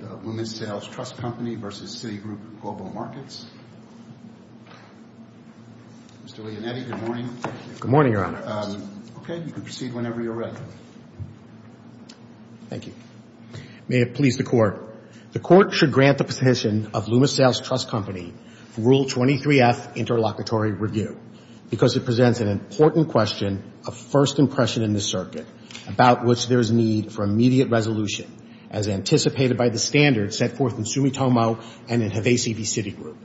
Mr. Leonetti, good morning. Good morning, Your Honor. Okay, you can proceed whenever you're ready. Thank you. May it please the Court. The Court should grant the position of Loomis Sayles Trust Company Rule 23F, Interlocutory Review, because it presents an important question of first impression in this circuit, about which there is need for immediate resolution, as anticipated by the standards set forth in Sumitomo and in Havasi v. Citigroup.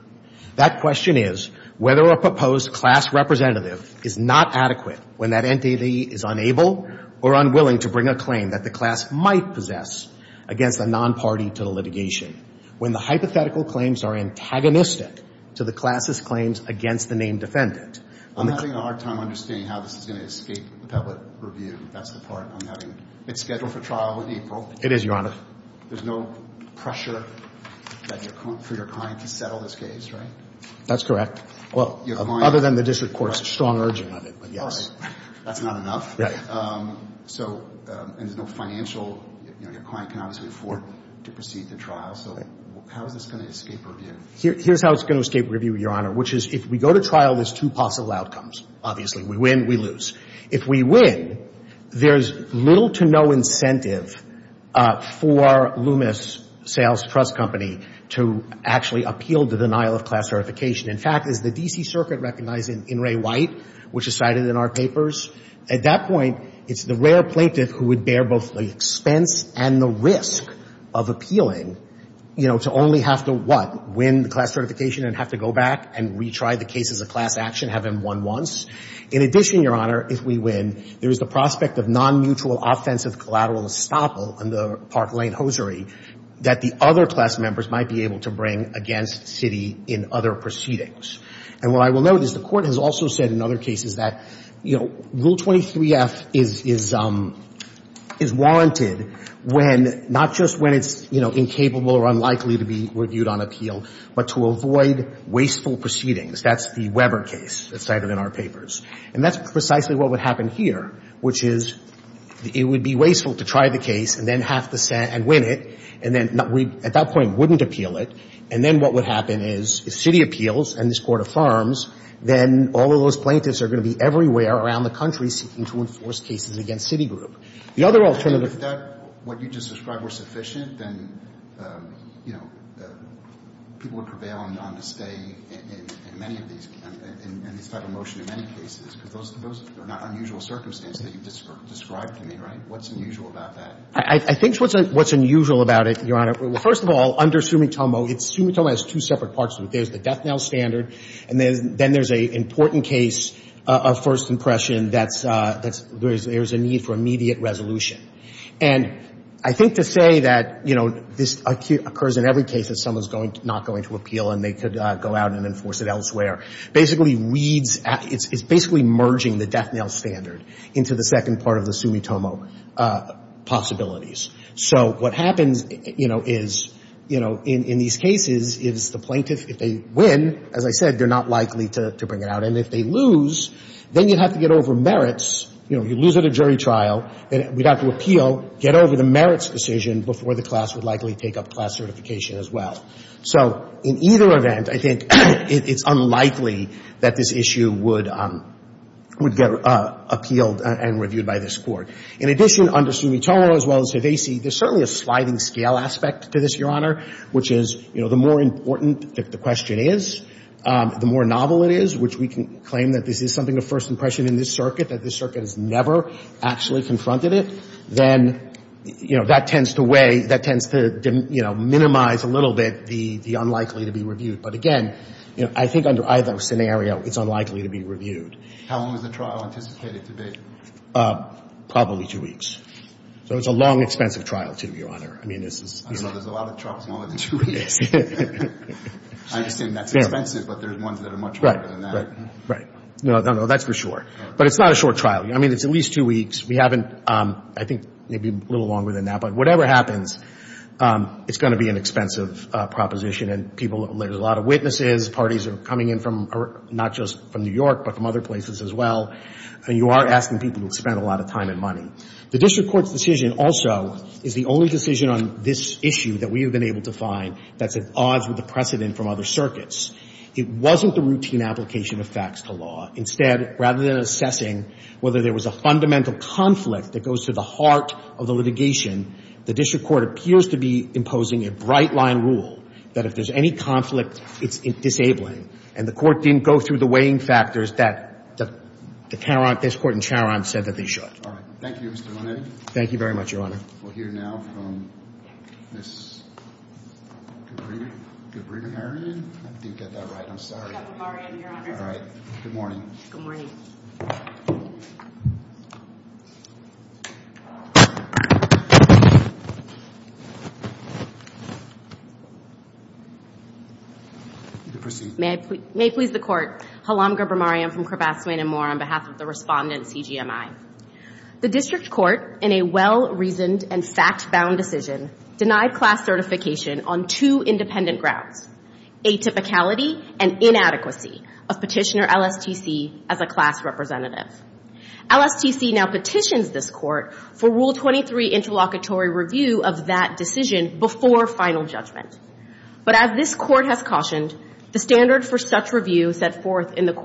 That question is whether a proposed class representative is not adequate when that entity is unable or unwilling to bring a claim that the class might possess against a non-party to the litigation, when the hypothetical claims are antagonistic to the class's claims against the named defendant. I'm having a hard time understanding how this is going to escape the public review. That's the part I'm having. It's scheduled for trial in April. It is, Your Honor. There's no pressure for your client to settle this case, right? That's correct. Well, other than the district court's strong urging on it, but yes. All right. That's not enough. So there's no financial, you know, your client can obviously afford to proceed to trial. So how is this going to escape review? Here's how it's going to escape review, Your Honor, which is if we go to trial, there's two possible outcomes, obviously. We win, we lose. If we win, there's little to no incentive for Loomis Sales Trust Company to actually appeal the denial of class certification. In fact, as the D.C. Circuit recognized in Ray White, which is cited in our papers, at that point, it's the rare plaintiff who would bear both the expense and the risk of appealing, you know, to only have to, what, win the class certification and have to go back and retry the case as a class action, have him won once. In addition, Your Honor, if we win, there is the prospect of nonmutual offensive collateral estoppel in the Park Lane hosiery that the other class members might be able to bring against Citi in other proceedings. And what I will note is the Court has also said in other cases that, you know, Rule 23F is warranted when, not just when it's, you know, incapable or unlikely to be reviewed on appeal, but to avoid wasteful proceedings. That's the Weber case that's cited in our papers. And that's precisely what would happen here, which is it would be wasteful to try the case and then have to say, and win it, and then we, at that point, wouldn't appeal it. And then what would happen is if Citi appeals and this Court affirms, then all of those plaintiffs are going to be everywhere around the country seeking to enforce cases against Citi Group. The other alternative. But if that, what you just described, were sufficient, then, you know, people would prevail on the stay in many of these, in this type of motion in many cases, because those are not unusual circumstances that you've described to me, right? What's unusual about that? I think what's unusual about it, Your Honor, well, first of all, under Sumitomo, Sumitomo has two separate parts to it. There's the death knell standard, and then there's an important case of first impression that's, there's a need for immediate resolution. And I think to say that, you know, this occurs in every case that someone's going to, not going to appeal and they could go out and enforce it elsewhere basically reads, it's basically merging the death knell standard into the second part of the Sumitomo possibilities. So what happens, you know, is, you know, in these cases is the plaintiff, if they win, as I said, they're not likely to bring it out. And if they lose, then you'd have to get over merits. You know, you lose at a jury trial, then we'd have to appeal, get over the merits decision before the class would likely take up class certification as well. So in either event, I think it's unlikely that this issue would, would get appealed and reviewed by this Court. In addition, under Sumitomo as well as Hevesi, there's certainly a sliding scale aspect to this, Your Honor, which is, you know, the more important the question is, the more novel it is, which we can claim that this is something of first impression in this circuit, that this circuit has never actually confronted it, then, you know, that tends to weigh, that tends to, you know, minimize a little bit the unlikely to be reviewed. But again, you know, I think under either scenario, it's unlikely to be reviewed. How long is the trial anticipated to be? Probably two weeks. So it's a long, expensive trial, too, Your Honor. I mean, this is, you know. I know there's a lot of trials longer than two weeks. I understand that's expensive, but there's ones that are much longer than that. Right. No, no, that's for sure. But it's not a short trial. I mean, it's at least two weeks. We haven't, I think, maybe a little longer than that. But whatever happens, it's going to be an expensive proposition. And people, there's a lot of witnesses. Parties are coming in from, not just from New York, but from other places as well. And you are asking people to spend a lot of time and money. The district court's decision also is the only decision on this issue that we have been able to find that's at odds with the precedent from other circuits. It wasn't the routine application of facts to law. Instead, rather than assessing whether there was a fundamental conflict that goes to the heart of the litigation, the district court appears to be imposing a bright line rule that if there's any conflict, it's disabling. And the Court didn't go through the weighing factors that the Tarrant, this Court in Tarrant said that they should. All right. Thank you, Mr. Monetti. Thank you very much, Your Honor. We'll hear now from Ms. Gabrimarian. I didn't get that right. I'm sorry. Gabrimarian, Your Honor. All right. Good morning. Good morning. You can proceed. May I please, may I please the Court. Halam Gabrimarian from Crabath-Swain & Moore on behalf of the respondent, CGMI. The district court in a well-reasoned and fact-bound decision denied class certification on two independent grounds, atypicality and inadequacy of petitioner LSTC as a class representative. LSTC now petitions this Court for Rule 23 interlocutory review of that decision before final judgment. But as this Court has cautioned, the standard for such review set forth in the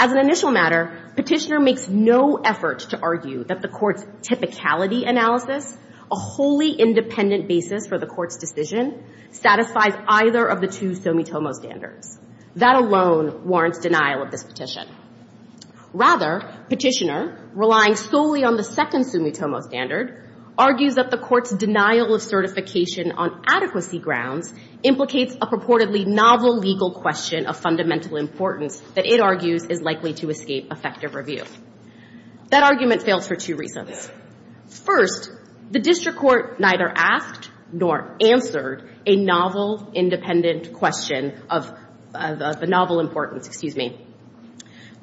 As an initial matter, petitioner makes no effort to argue that the Court's typicality analysis, a wholly independent basis for the Court's decision, satisfies either of the two summa tomo standards. That alone warrants denial of this petition. Rather, petitioner, relying solely on the second summa tomo standard, argues that the Court's denial of certification on adequacy grounds implicates a purportedly novel legal question of fundamental importance that it argues is likely to escape effective review. That argument fails for two reasons. First, the district court neither asked nor answered a novel independent question of the novel importance, excuse me.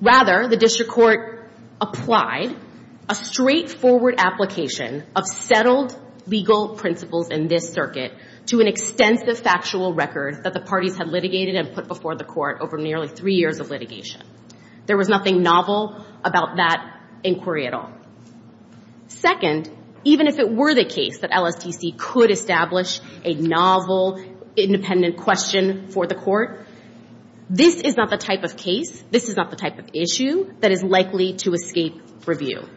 Rather, the district court applied a straightforward application of settled legal principles in this circuit to an extensive factual record that the parties had litigated and put before the Court over nearly three years of litigation. There was nothing novel about that inquiry at all. Second, even if it were the case that LSTC could establish a novel independent question for the Court, this is not the type of case, this is not the type of issue that is likely to escape review.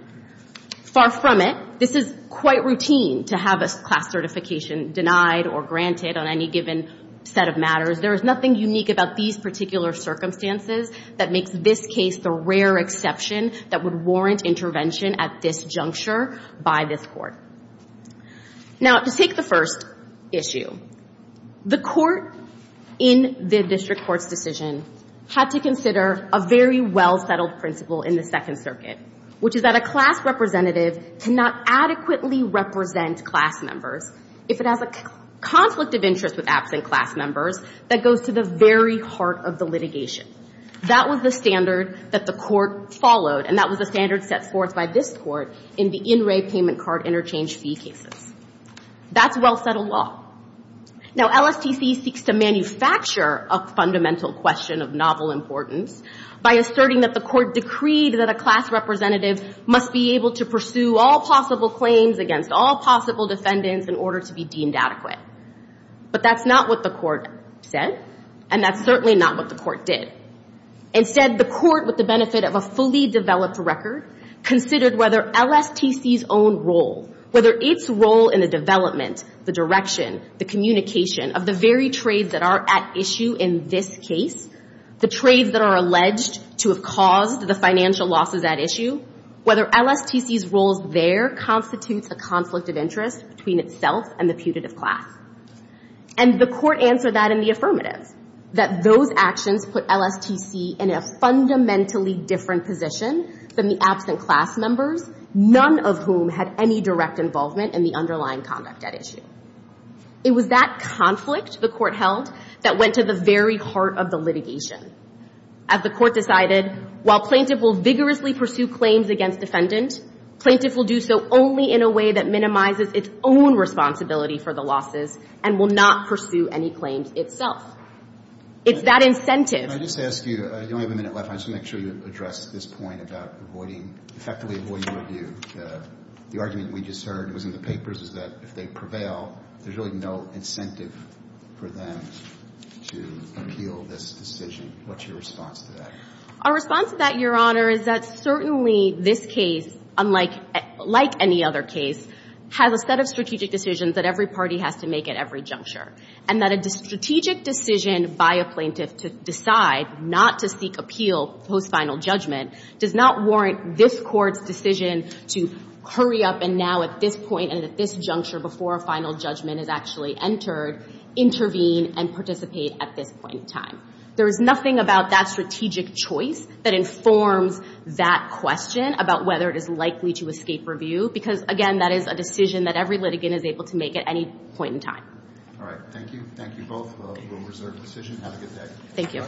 Far from it, this is quite routine to have a class certification denied or granted on any given set of matters. There is nothing unique about these particular circumstances that makes this case the rare exception that would warrant intervention at this juncture by this Court. Now, to take the first issue, the Court in the district court's decision had to consider a very well-settled principle in the Second Circuit, which is that a class representative cannot adequately represent class members if it has a conflict of interest with absent class members that goes to the very heart of the litigation. That was the standard that the Court followed, and that was the standard set forth by this Court in the in-ray payment card interchange fee cases. That's well-settled law. Now, LSTC seeks to manufacture a fundamental question of novel importance by asserting that the Court decreed that a class representative must be able to pursue all possible claims against all possible defendants in order to be deemed adequate. But that's not what the Court said, and that's certainly not what the Court did. Instead, the Court, with the benefit of a fully developed record, considered whether LSTC's own role, whether its role in the development, the direction, the communication of the very trades that are at issue in this case, the trades that are alleged to have caused the financial losses at issue, whether LSTC's roles there constitutes a conflict of interest between itself and the putative class. And the Court answered that in the affirmative, that those actions put LSTC in a fundamentally different position than the absent class members, none of whom had any direct involvement in the underlying conduct at issue. It was that conflict the Court held that went to the very heart of the litigation. As the Court decided, while plaintiff will vigorously pursue claims against defendant, plaintiff will do so only in a way that minimizes its own responsibility for the losses and will not pursue any claims itself. It's that incentive. I just ask you, you only have a minute left, I just want to make sure you address this point about avoiding, effectively avoiding review. The argument we just heard was in the papers, is that if they prevail, there's really no incentive for them to appeal this decision. What's your response to that? Our response to that, Your Honor, is that certainly this case, unlike any other case, has a set of strategic decisions that every party has to make at every juncture. And that a strategic decision by a plaintiff to decide not to seek appeal post-final judgment does not warrant this Court's decision to hurry up and now at this point and at this juncture before a final judgment is actually entered, intervene and participate at this point in time. There is nothing about that strategic choice that informs that question about whether it is likely to escape review because, again, that is a decision that every litigant is able to make at any point in time. All right. Thank you. Thank you both. We'll reserve the decision. Have a good day. Thank you.